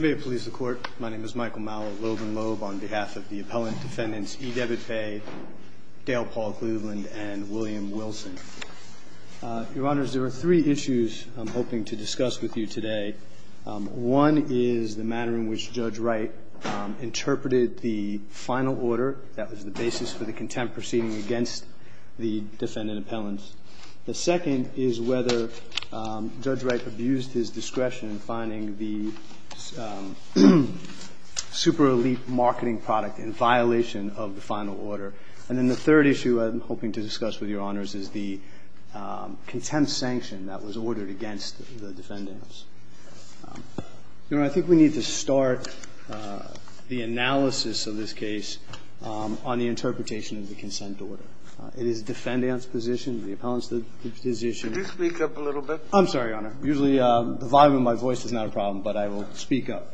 May it please the Court, my name is Michael Mallett Loeb and Loeb on behalf of the Appellant Defendants EDebitPay, Dale Paul Cleveland, and William Wilson. Your Honors, there are three issues I'm hoping to discuss with you today. One is the matter in which Judge Wright interpreted the final order that was the basis for the contempt proceeding against the defendant appellants. The second is whether Judge Wright abused his discretion in finding the super elite marketing product in violation of the final order. And then the third issue I'm hoping to discuss with your Honors is the contempt sanction that was ordered against the defendants. Your Honor, I think we need to start the analysis of this case on the interpretation of the consent order. It is the defendant's position, the appellant's position. Could you speak up a little bit? I'm sorry, Your Honor. Usually the volume of my voice is not a problem, but I will speak up.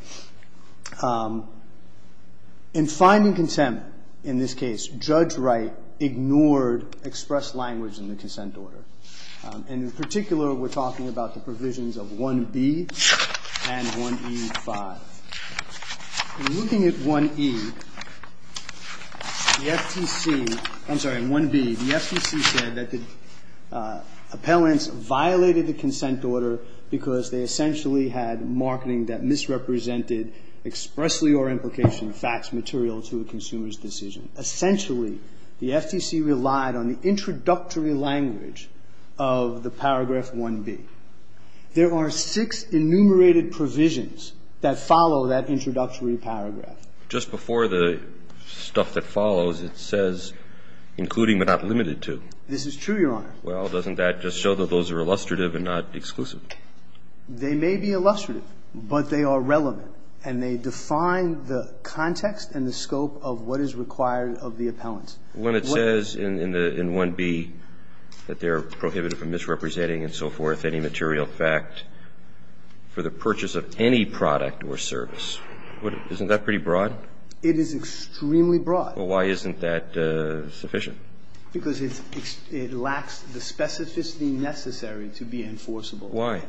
In finding contempt in this case, Judge Wright ignored expressed language in the consent order. And in particular, we're talking about the provisions of 1B and 1E5. In looking at 1E, the FTC, I'm sorry, in 1B, the FTC said that the appellants violated the consent order because they essentially had marketing that misrepresented expressly or implication facts material to a consumer's decision. Essentially, the FTC relied on the introductory language of the paragraph 1B. There are six enumerated provisions that follow that introductory paragraph. Just before the stuff that follows, it says that the appellant has the right to purchase any product or service, including but not limited to. This is true, Your Honor. Well, doesn't that just show that those are illustrative and not exclusive? They may be illustrative, but they are relevant. And they define the context and the scope of what is required of the appellant. When it says in 1B that they are prohibited from misrepresenting and so forth any material fact for the purchase of any product or service, isn't that pretty broad? It is extremely broad. Well, why isn't that sufficient? Because it lacks the specificity necessary to be enforceable. Why?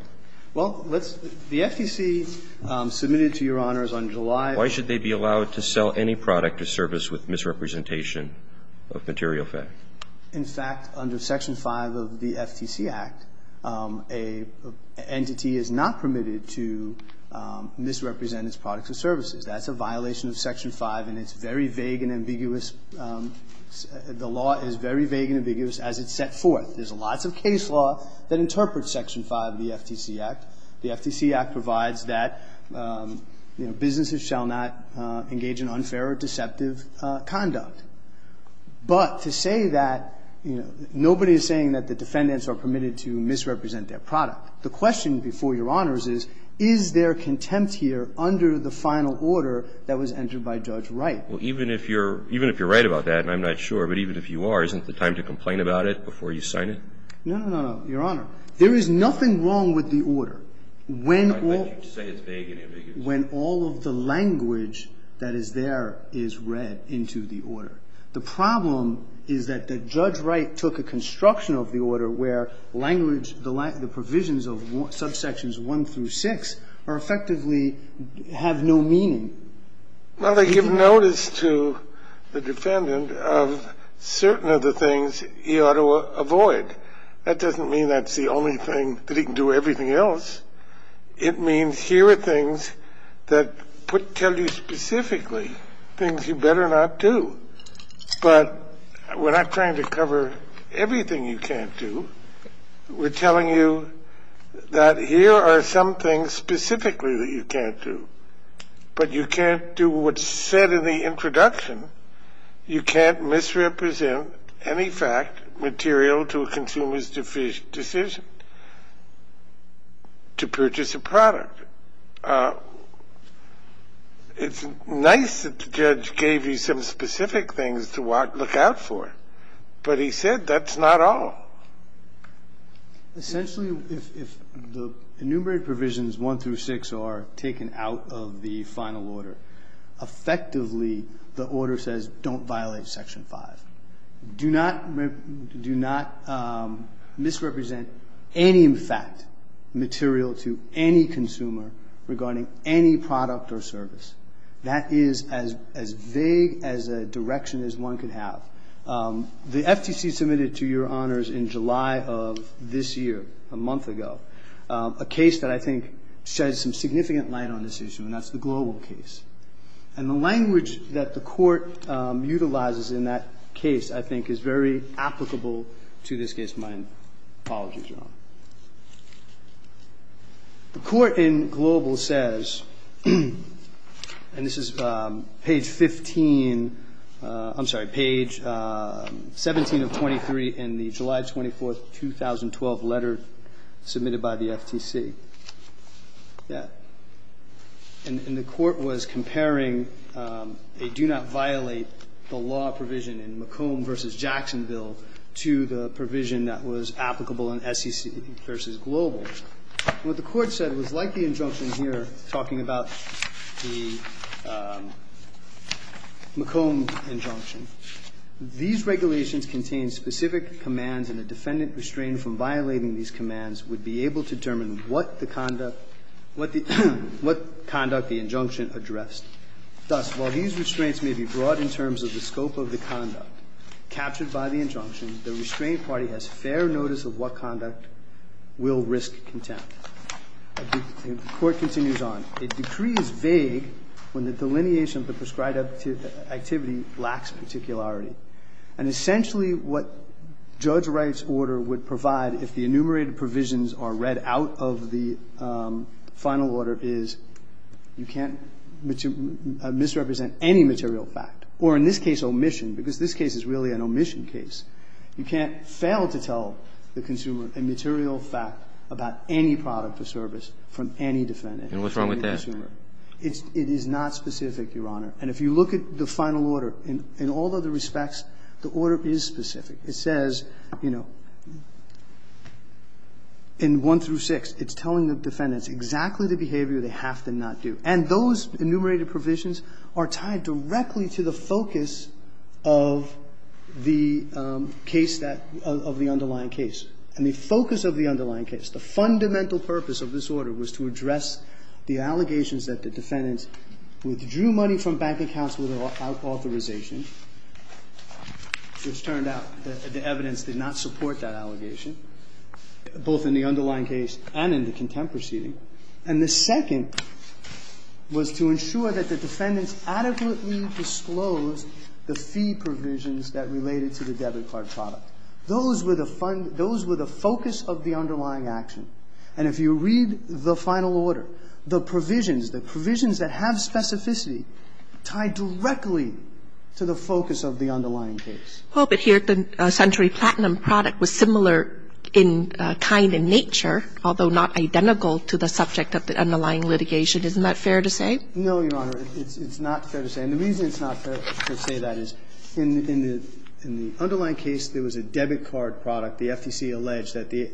Well, let's see. The FTC submitted to Your Honors on July. Why should they be allowed to sell any product or service with misrepresentation of material fact? In fact, under Section 5 of the FTC Act, an entity is not permitted to misrepresent its products or services. That's a violation of Section 5, and it's very vague and ambiguous. The law is very vague and ambiguous as it's set forth. There's lots of case law that interprets Section 5 of the FTC Act. The FTC Act provides that businesses shall not engage in unfair or deceptive conduct. But to say that, you know, nobody is saying that the defendants are permitted to misrepresent their product. The question before Your Honors is, is there contempt here under the final order that was entered by Judge Wright? Well, even if you're right about that, and I'm not sure, but even if you are, isn't it time to complain about it before you sign it? No, no, no, Your Honor. There is nothing wrong with the order when all of the language that is there is read into the order. The problem is that Judge Wright took a construction of the order where language the provisions of subsections 1 through 6 are effectively have no meaning. Well, they give notice to the defendant of certain of the things he ought to avoid. That doesn't mean that's the only thing that he can do with everything else. It means here are things that tell you specifically things you better not do. But we're not trying to cover everything you can't do. We're telling you that here are some things specifically that you can't do. But you can't do what's said in the introduction. You can't misrepresent any fact material to a consumer's decision to purchase a product. It's nice that the judge gave you some specific things to look out for, but he said that's not all. Essentially, if the enumerated provisions 1 through 6 are taken out of the final order, effectively the order says don't violate Section 5. Do not misrepresent any fact material to any consumer regarding any product or service. That is as vague as a direction as one could have. The FTC submitted to your honors in July of this year, a month ago, a case that I think sheds some significant light on this issue, and that's the Global case. And the language that the Court utilizes in that case I think is very applicable to this case. My apologies, Your Honor. The Court in Global says, and this is page 15, I'm sorry, page 17 of 23 in the July 24, 2012, letter submitted by the FTC. And the Court was comparing a do not violate the law provision in McComb v. Jackson bill to the provision that was applicable in SEC v. Global. What the Court said was like the injunction here talking about the McComb injunction. These regulations contain specific commands and a defendant restrained from violating these commands would be able to determine what the conduct, what conduct the injunction addressed. Thus, while these restraints may be broad in terms of the scope of the conduct captured by the injunction, the restrained party has fair notice of what conduct will risk contempt. The Court continues on. The decree is vague when the delineation of the prescribed activity lacks particularity. And essentially what Judge Wright's order would provide if the enumerated provisions are read out of the final order is you can't misrepresent any material fact, or in this case, omission, because this case is really an omission case. You can't fail to tell the consumer a material fact about any product or service from any defendant. And what's wrong with that? It is not specific, Your Honor. And if you look at the final order, in all other respects, the order is specific. It says, you know, in 1 through 6, it's telling the defendants exactly the behavior they have to not do. And those enumerated provisions are tied directly to the focus of the case that, of the underlying case. And the focus of the underlying case, the fundamental purpose of this order was to address the allegations that the defendants withdrew money from bank accounts without authorization, which turned out that the evidence did not support that allegation, both in the underlying case and in the contempt proceeding. And the second was to ensure that the defendants adequately disclosed the fee provisions that related to the debit card product. Those were the fund – those were the focus of the underlying action. And if you read the final order, the provisions, the provisions that have specificity tie directly to the focus of the underlying case. Well, but here the Century Platinum product was similar in kind in nature, although not identical to the subject of the underlying litigation. Isn't that fair to say? No, Your Honor. It's not fair to say. And the reason it's not fair to say that is, in the underlying case, there was a debit card product. The FTC alleged that the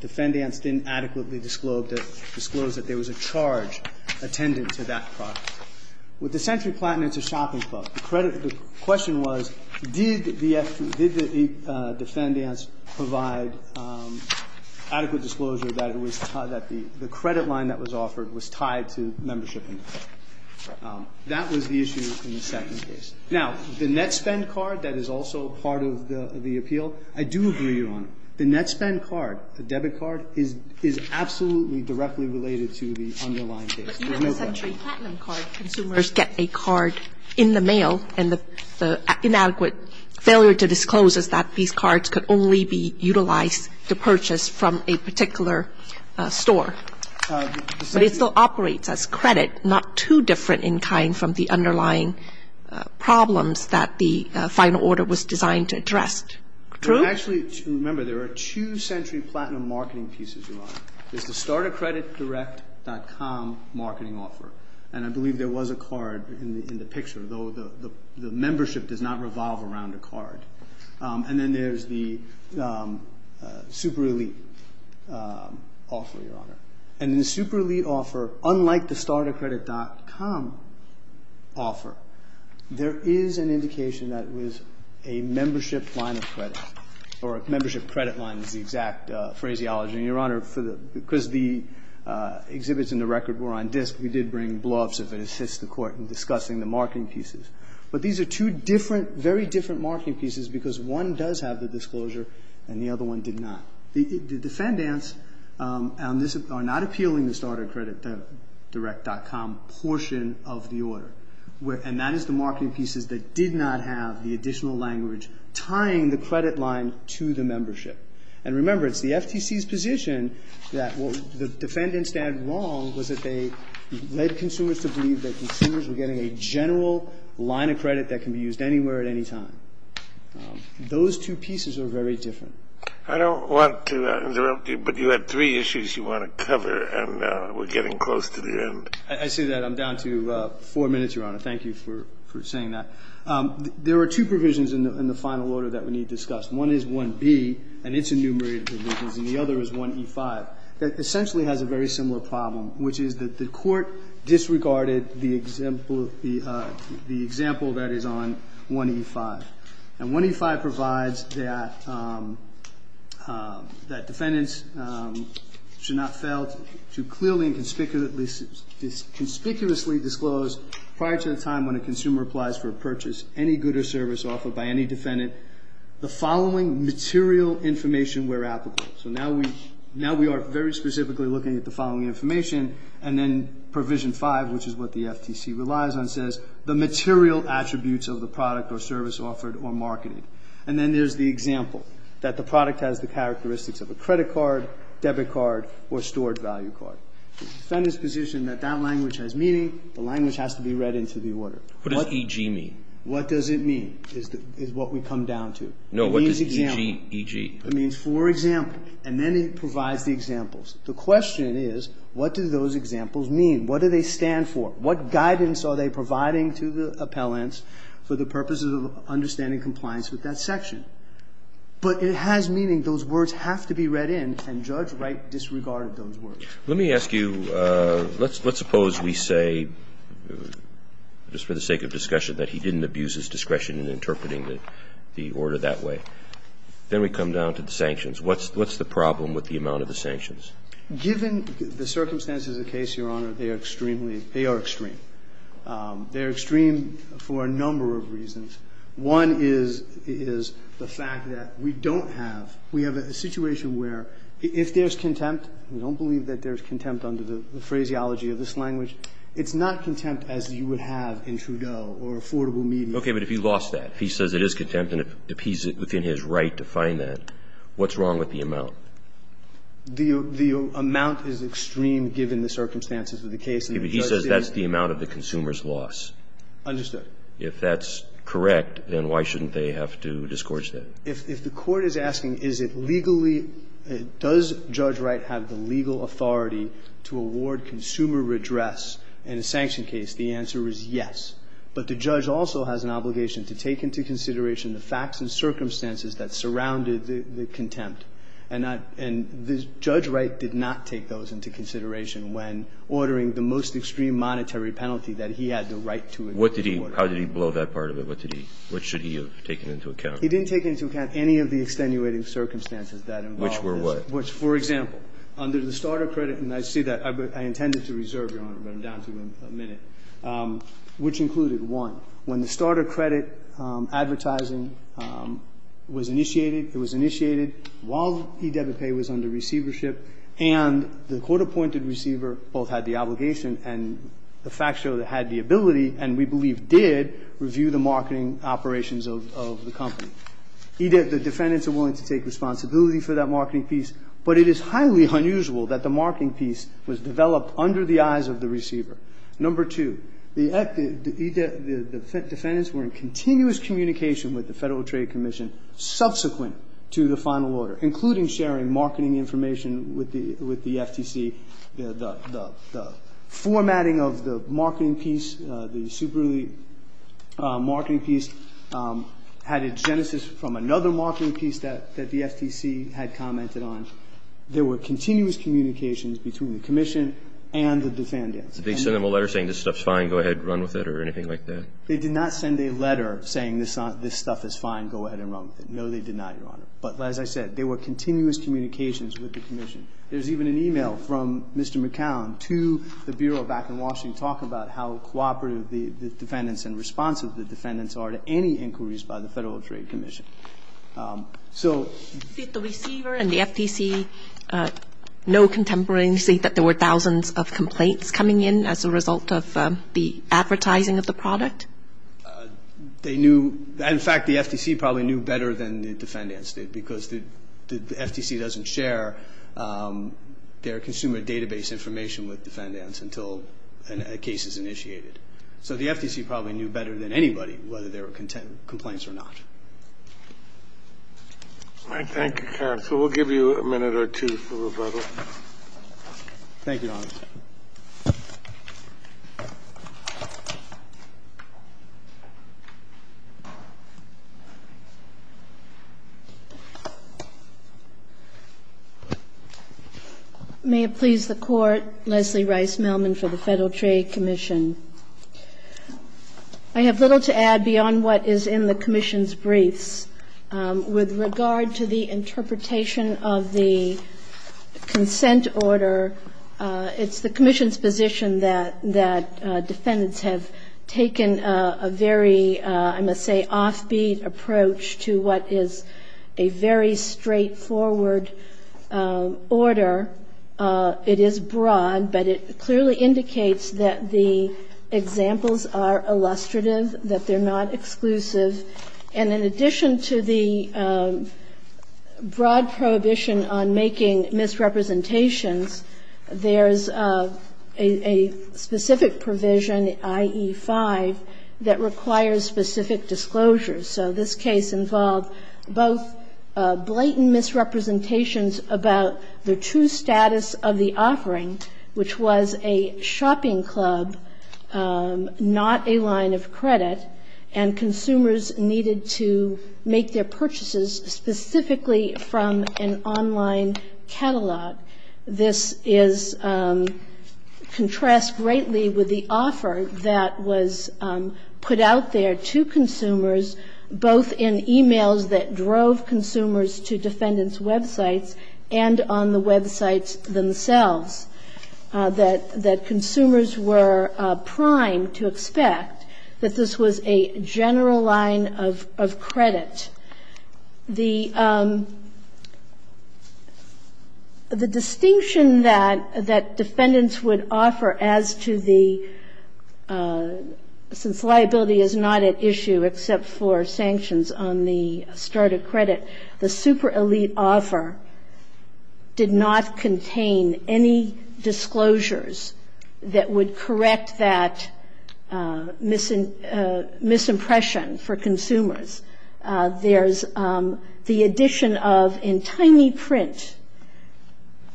defendants didn't adequately disclose that there was a charge attendant to that product. With the Century Platinum, it's a shopping club. The question was, did the defendants provide adequate disclosure that it was – that was the issue in the second case. Now, the net spend card, that is also part of the appeal. I do agree, Your Honor. The net spend card, the debit card, is absolutely directly related to the underlying case. There's no doubt. But even the Century Platinum card, consumers get a card in the mail, and the inadequate failure to disclose is that these cards could only be utilized to purchase from a particular store. But it still operates as credit, not too different in kind from the underlying problems that the final order was designed to address. True? Actually, remember, there are two Century Platinum marketing pieces, Your Honor. There's the StartACreditDirect.com marketing offer. And I believe there was a card in the picture, though the membership does not revolve around a card. And then there's the Super Elite offer, Your Honor. And in the Super Elite offer, unlike the StartACredit.com offer, there is an indication that it was a membership line of credit, or a membership credit line is the exact phraseology. And, Your Honor, for the – because the exhibits and the record were on disk, we did bring bluffs if it assists the Court in discussing the marketing pieces. But these are two different, very different marketing pieces because one does have the disclosure and the other one did not. The defendants on this are not appealing the StartACreditDirect.com portion of the order. And that is the marketing pieces that did not have the additional language tying the credit line to the membership. And remember, it's the FTC's position that what the defendants did wrong was that they led consumers to believe that consumers were getting a general line of credit that can be used anywhere at any time. Those two pieces are very different. I don't want to interrupt you, but you had three issues you want to cover, and we're getting close to the end. I see that. I'm down to four minutes, Your Honor. Thank you for saying that. There are two provisions in the final order that we need to discuss. One is 1b, and it's enumerated provisions, and the other is 1e5. That essentially has a very similar problem, which is that the court disregarded the example that is on 1e5. And 1e5 provides that defendants should not fail to clearly and conspicuously disclose prior to the time when a consumer applies for a purchase, any good or service offered by any defendant, the following material information where applicable. So now we are very specifically looking at the following information, and then provision 5, which is what the FTC relies on, says the material attributes of the product or service offered or marketed. And then there's the example, that the product has the characteristics of a credit card, debit card, or stored value card. Defendants position that that language has meaning. The language has to be read into the order. What does e.g. mean? What does it mean is what we come down to. No, what does e.g. mean? It means for example, and then it provides the examples. The question is, what do those examples mean? What do they stand for? What guidance are they providing to the appellants for the purposes of understanding compliance with that section? But it has meaning. Those words have to be read in, and Judge Wright disregarded those words. Let me ask you, let's suppose we say, just for the sake of discussion, that he didn't abuse his discretion in interpreting the order that way. Then we come down to the sanctions. What's the problem with the amount of the sanctions? Given the circumstances of the case, Your Honor, they are extremely, they are extreme. They are extreme for a number of reasons. One is the fact that we don't have, we have a situation where if there's contempt, we don't believe that there's contempt under the phraseology of this language, it's not contempt as you would have in Trudeau or affordable meaning. But if he lost that. If he says it is contempt and if he's within his right to find that, what's wrong with the amount? The amount is extreme given the circumstances of the case. He says that's the amount of the consumer's loss. Understood. If that's correct, then why shouldn't they have to discourage that? If the Court is asking is it legally, does Judge Wright have the legal authority to award consumer redress in a sanction case, the answer is yes. But the judge also has an obligation to take into consideration the facts and circumstances that surrounded the contempt. And I, and Judge Wright did not take those into consideration when ordering the most extreme monetary penalty that he had the right to award. What did he, how did he blow that part of it? What did he, what should he have taken into account? He didn't take into account any of the extenuating circumstances that involved this. Which were what? Which, for example, under the starter credit, and I see that, I intended to reserve, Your Honor, but I'm down to a minute, which included one. When the starter credit advertising was initiated, it was initiated while E-debit pay was under receivership, and the court-appointed receiver both had the obligation and the fact show that had the ability, and we believe did, review the marketing operations of the company. The defendants are willing to take responsibility for that marketing piece, but it is of the receiver. Number two. The defendants were in continuous communication with the Federal Trade Commission subsequent to the final order, including sharing marketing information with the FTC. The formatting of the marketing piece, the superlative marketing piece, had a genesis from another marketing piece that the FTC had commented on. There were continuous communications between the commission and the defendants. And they sent them a letter saying this stuff's fine, go ahead, run with it or anything like that? They did not send a letter saying this stuff is fine, go ahead and run with it. No, they did not, Your Honor. But as I said, there were continuous communications with the commission. There's even an e-mail from Mr. McCown to the Bureau back in Washington talking about how cooperative the defendants and responsive the defendants are to any inquiries by the Federal Trade Commission. Did the receiver and the FTC know contemporaneously that there were thousands of complaints coming in as a result of the advertising of the product? They knew. In fact, the FTC probably knew better than the defendants did because the FTC doesn't share their consumer database information with defendants until a case is initiated. So the FTC probably knew better than anybody whether there were complaints or not. Thank you, counsel. We'll give you a minute or two for rebuttal. Thank you, Your Honor. May it please the Court, Leslie Rice-Mellman for the Federal Trade Commission. I have little to add beyond what is in the commission's briefs. With regard to the interpretation of the consent order, it's the commission's position that defendants have taken a very, I must say, offbeat approach to what is a very straightforward order. It is broad, but it clearly indicates that the examples are illustrative, that they're not exclusive. And in addition to the broad prohibition on making misrepresentations, there's a specific provision, IE5, that requires specific disclosures. So this case involved both blatant misrepresentations about the true status of the offering, which was a shopping club, not a line of credit, and consumers needed to make their purchases specifically from an online catalog. This is contrasted greatly with the offer that was put out there to consumers both in e-mails that drove consumers to defendants' websites and on the websites themselves, that consumers were primed to expect that this was a general line of credit. The distinction that defendants would offer as to the, since liability is not at issue except for sanctions on the start of credit, the super elite offer did not contain any disclosures that would correct that misimpression for consumers. There's the addition of, in tiny print,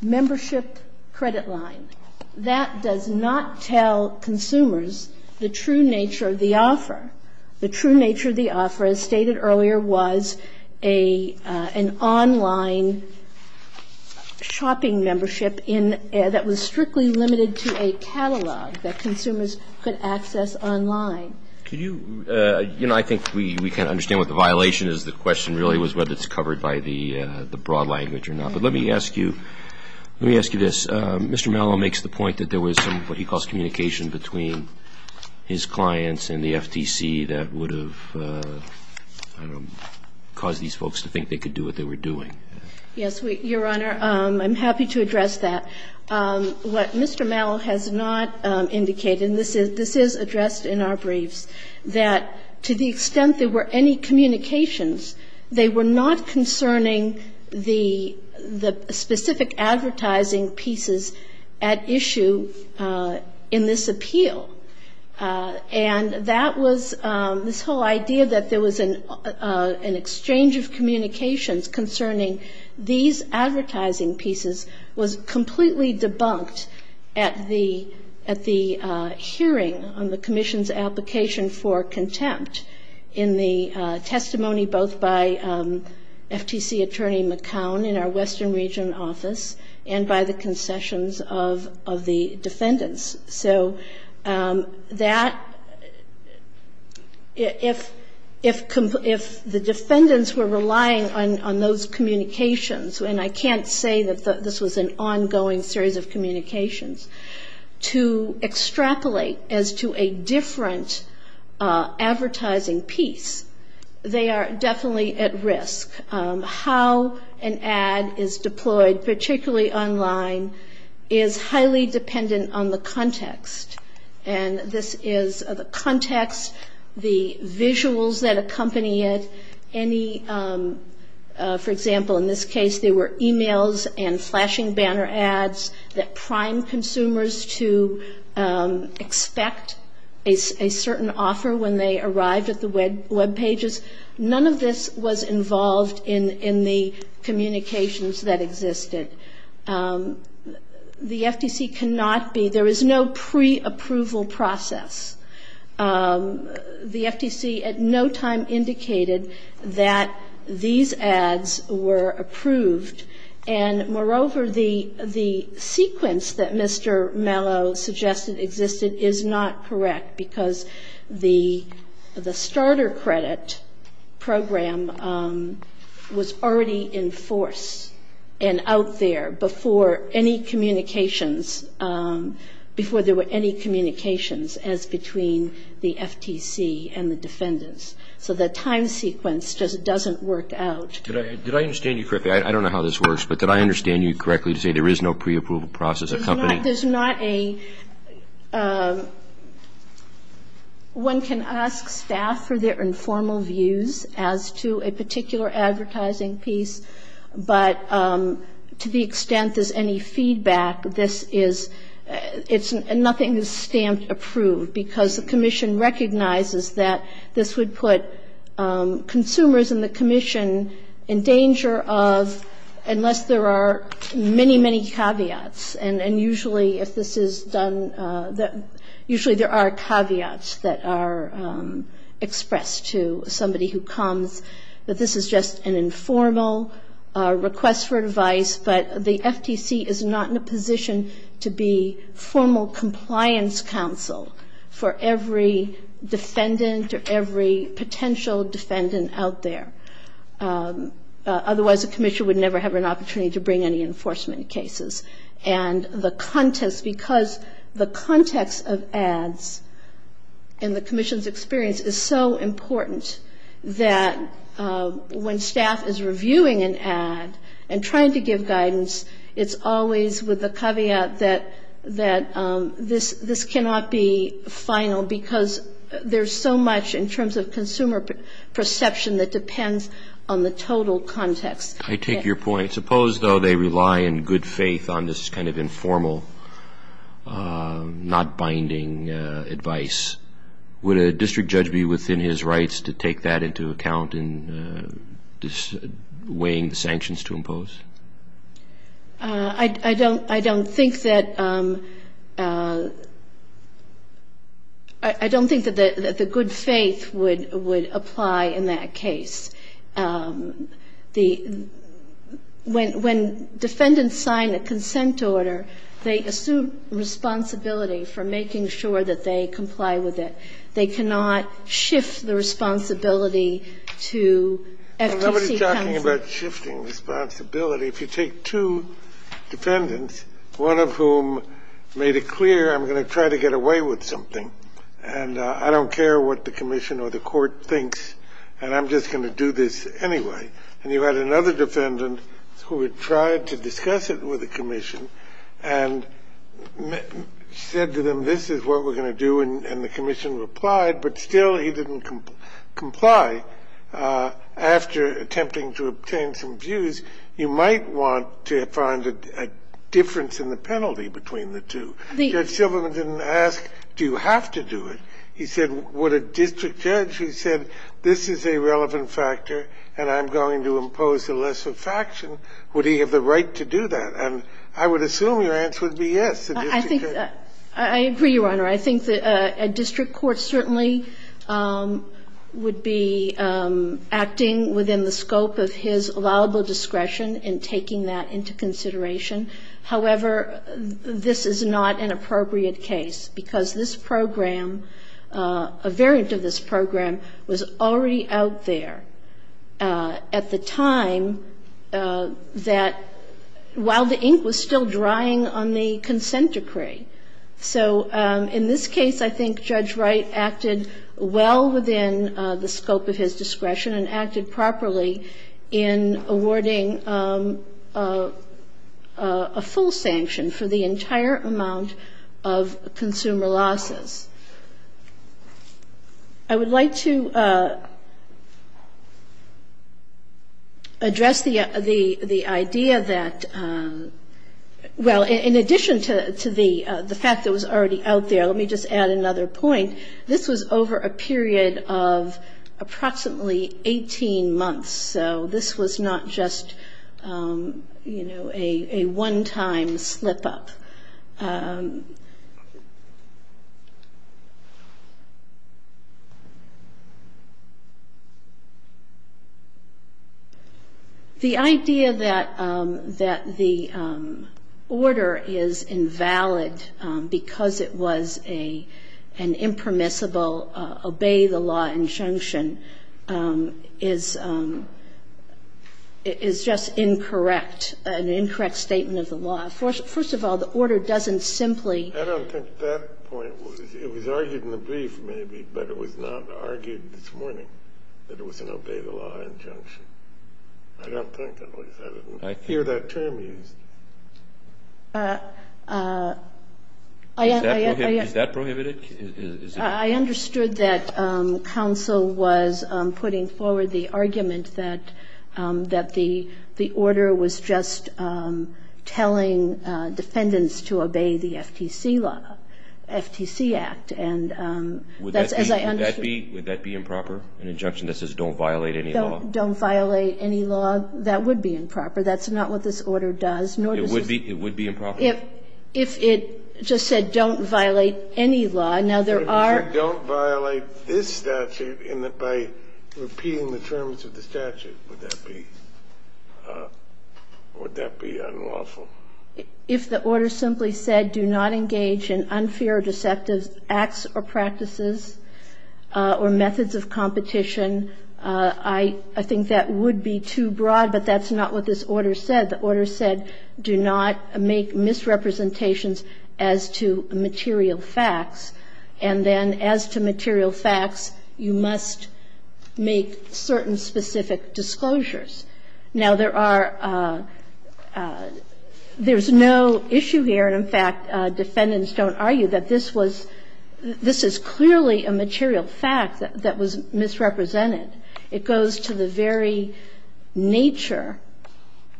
membership credit line. That does not tell consumers the true nature of the offer, the true nature of the offer, as stated earlier, was an online shopping membership that was strictly limited to a catalog that consumers could access online. I think we can understand what the violation is. The question really was whether it's covered by the broad language or not. But let me ask you, let me ask you this. Mr. Mallow makes the point that there was some, what he calls, communication between his clients and the FTC that would have, I don't know, caused these folks to think they could do what they were doing. Yes, Your Honor, I'm happy to address that. What Mr. Mallow has not indicated, and this is addressed in our briefs, that to the specific advertising pieces at issue in this appeal. And that was, this whole idea that there was an exchange of communications concerning these advertising pieces was completely debunked at the hearing on the commission's application for contempt in the testimony both by FTC attorney McCown in our Western Region office and by the concessions of the defendants. So that, if the defendants were relying on those communications, and I can't say that this was an ongoing series of communications, to extrapolate as to a different advertising piece, they are definitely at risk. How an ad is deployed, particularly online, is highly dependent on the context. And this is the context, the visuals that accompany it, any, for example, in this case, there were emails and flashing banner ads that primed consumers to expect a certain offer when they arrived at the web pages. None of this was involved in the communications that existed. The FTC cannot be, there is no preapproval process. The FTC at no time indicated that these ads were approved. And moreover, the sequence that Mr. Mallow suggested existed is not correct, because the starter credit program was already in force and out there before any communications, before there were any communications as between the FTC and the defendants. So the time sequence just doesn't work out. Did I understand you correctly? I don't know how this works, but did I understand you correctly to say there is no preapproval process One can ask staff for their informal views as to a particular advertising piece, but to the extent there's any feedback, this is, nothing is stamp approved, because the commission recognizes that this would put consumers and the commission in danger of, unless there are many, many caveats, and usually if this is done, usually there are caveats that are expressed to somebody who comes, that this is just an informal request for advice, but the FTC is not in a position to be formal compliance counsel for every defendant or every potential defendant out there. Otherwise the commission would never have an opportunity to bring any enforcement cases. And the context, because the context of ads in the commission's experience is so important, that when staff is reviewing an ad and trying to give guidance, it's always with the caveat that this cannot be final, because there's so much in terms of consumer perception that depends on the total context. I take your point, suppose though they rely in good faith on this kind of informal, not binding advice, would a district judge be within his rights to take that into account in weighing the sanctions to impose? I don't think that the good faith would apply in that case. The question is, when defendants sign a consent order, they assume responsibility for making sure that they comply with it. They cannot shift the responsibility to FTC counsel. Nobody's talking about shifting responsibility. If you take two defendants, one of whom made it clear I'm going to try to get away with something and I don't care what the commission or the court thinks, and I'm just going to do this anyway, and you had another defendant who had tried to discuss it with the commission and said to them, this is what we're going to do, and the commission replied, but still he didn't comply. After attempting to obtain some views, you might want to find a difference in the penalty between the two. Judge Silverman didn't ask, do you have to do it? He said, would a district judge who said this is a relevant factor and I'm going to impose a lesser faction, would he have the right to do that? And I would assume your answer would be yes, a district judge. I agree, Your Honor. I think a district court certainly would be acting within the scope of his allowable discretion in taking that into consideration. However, this is not an appropriate case because this program, a variant of this program, was already out there at the time that, while the ink was still drying on the consent decree. So in this case, I think Judge Wright acted well within the scope of his discretion and acted properly in awarding a full sanction for the entire amount of consumer losses. I would like to address the idea that, well, in addition to the fact that it was already out there, let me just add another point, this was over a period of approximately 18 months, so this was not just a one-time slip-up. The idea that the order is invalid because it was an impermissible obey the law injunction is just incorrect, an incorrect statement of the law. First of all, the order doesn't simply ---- I don't think that point was ---- it was argued in the brief, maybe, but it was not argued this morning that it was an obey the law injunction. I don't think that was ---- I didn't hear that term used. Is that prohibited? I understood that counsel was putting forward the argument that the order was just telling defendants to obey the FTC law, FTC Act. And that's as I understood ---- Would that be improper, an injunction that says don't violate any law? Don't violate any law, that would be improper. That's not what this order does, nor does this ---- It would be improper? If it just said don't violate any law. Now, there are ---- So if you don't violate this statute by repeating the terms of the statute, would that be unlawful? If the order simply said do not engage in unfair or deceptive acts or practices or methods of competition, I think that would be too broad, but that's not what this It just says don't violate any law. Now, there are certain misrepresentations as to material facts, and then as to material facts, you must make certain specific disclosures. Now, there are ---- there's no issue here, and in fact, defendants don't argue that this was ---- this is clearly a material fact that was misrepresented. It goes to the very nature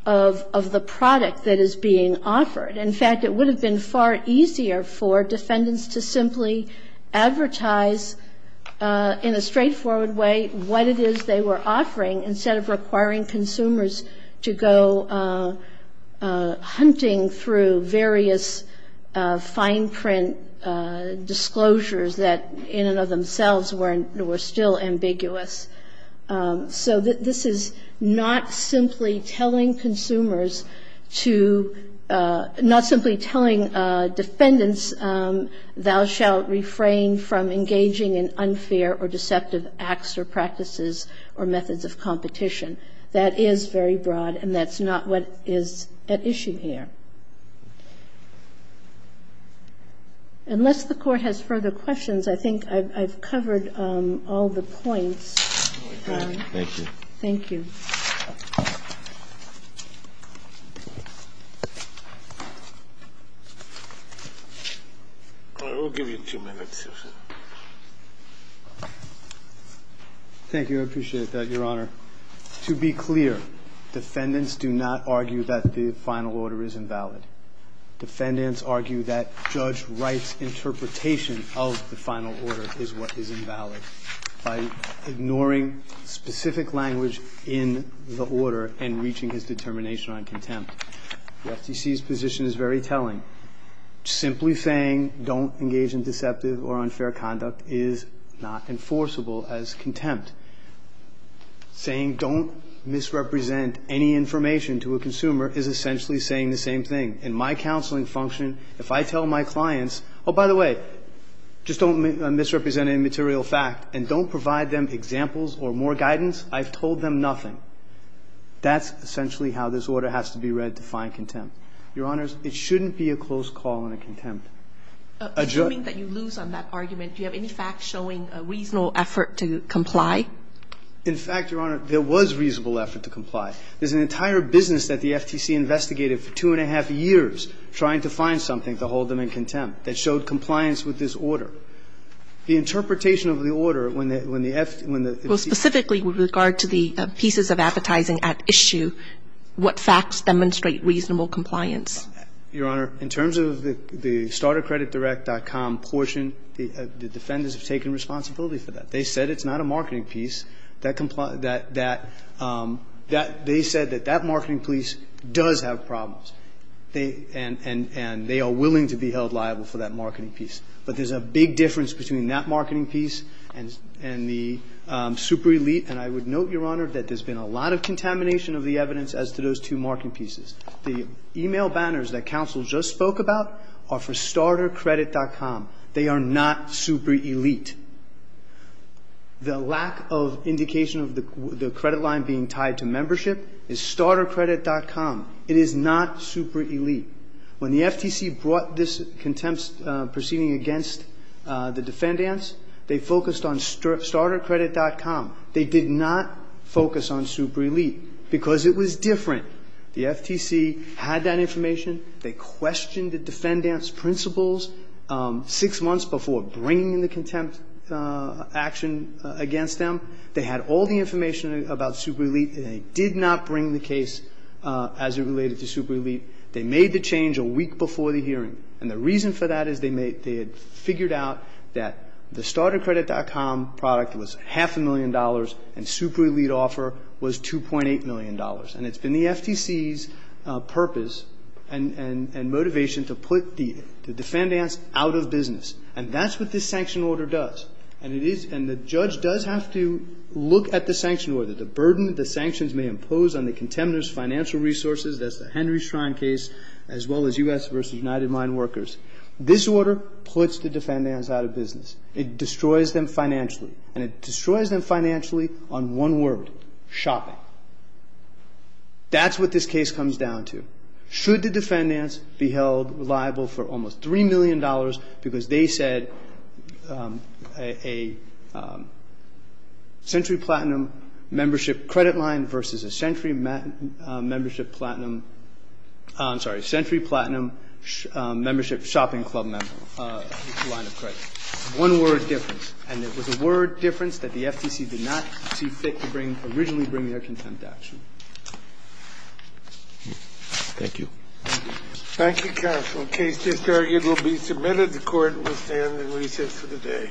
of the product that is being offered. In fact, it would have been far easier for defendants to simply advertise in a straightforward way what it is they were offering instead of requiring consumers to go hunting through various fine print disclosures that in and of themselves were still ambiguous. So this is not simply telling consumers to ---- not simply telling defendants to go hunting through various fine print disclosures that in and of themselves It's telling them that if the order simply said do not engage in unfair or deceptive acts or practices or methods of competition, that is very broad, and that's not what is at issue here. Unless the Court has further questions, I think I've covered all the points. Thank you. I will give you a few minutes. Thank you, I appreciate that, Your Honor. To be clear, defendants do not argue that the final order is invalid. Defendants argue that Judge Wright's interpretation of the final order is what is invalid by ignoring specific language in the order and reaching his determination on contempt. The FTC's position is very telling. The FTC's position is very telling. It's not just a matter of saying don't misrepresent any information to a consumer. It's essentially saying the same thing. In my counseling function, if I tell my clients, oh, by the way, just don't misrepresent any material fact and don't provide them examples or more guidance, I've told them nothing. That's essentially how this order has to be read to find contempt. Your Honors, it shouldn't be a close call on a contempt. Assuming that you lose on that argument, do you have any facts showing a reasonable effort to comply? In fact, Your Honor, there was reasonable effort to comply. There's an entire business that the FTC investigated for two and a half years trying to find something to hold them in contempt that showed compliance with this order. The interpretation of the order when the FTC ---- Well, specifically with regard to the pieces of advertising at issue, what facts demonstrate reasonable compliance? Your Honor, in terms of the startercreditdirect.com portion, the defenders have taken responsibility for that. They said it's not a marketing piece. That they said that that marketing piece does have problems. And they are willing to be held liable for that marketing piece. But there's a big difference between that marketing piece and the super elite. And I would note, Your Honor, that there's been a lot of contamination of the evidence as to those two marketing pieces. The email banners that counsel just spoke about are for startercredit.com. They are not super elite. The lack of indication of the credit line being tied to membership is startercredit.com. It is not super elite. When the FTC brought this contempt proceeding against the defendants, they focused on startercredit.com. They did not focus on super elite because it was different. The FTC had that information. They questioned the defendants' principles six months before bringing the contempt action against them. They had all the information about super elite. They did not bring the case as it related to super elite. They made the change a week before the hearing. And the reason for that is they had figured out that the startercredit.com product was half a million dollars and super elite offer was $2.8 million. And it's been the FTC's purpose and motivation to put the defendants out of business. And that's what this sanction order does. And the judge does have to look at the sanction order, the burden the sanctions may impose on the contemptors' financial resources. That's the Henry Shrine case, as well as U.S. versus United Mine Workers. This order puts the defendants out of business. It destroys them financially. And it destroys them financially on one word, shopping. That's what this case comes down to. Should the defendants be held liable for almost $3 million because they said a century platinum membership credit line versus a century platinum membership shopping club line of credit. One word difference. And it was a word difference that the FTC did not see fit to bring, originally bring their contempt action. Thank you. Thank you, counsel. The case is targeted to be submitted. The Court will stand and recess for the day. Thank you.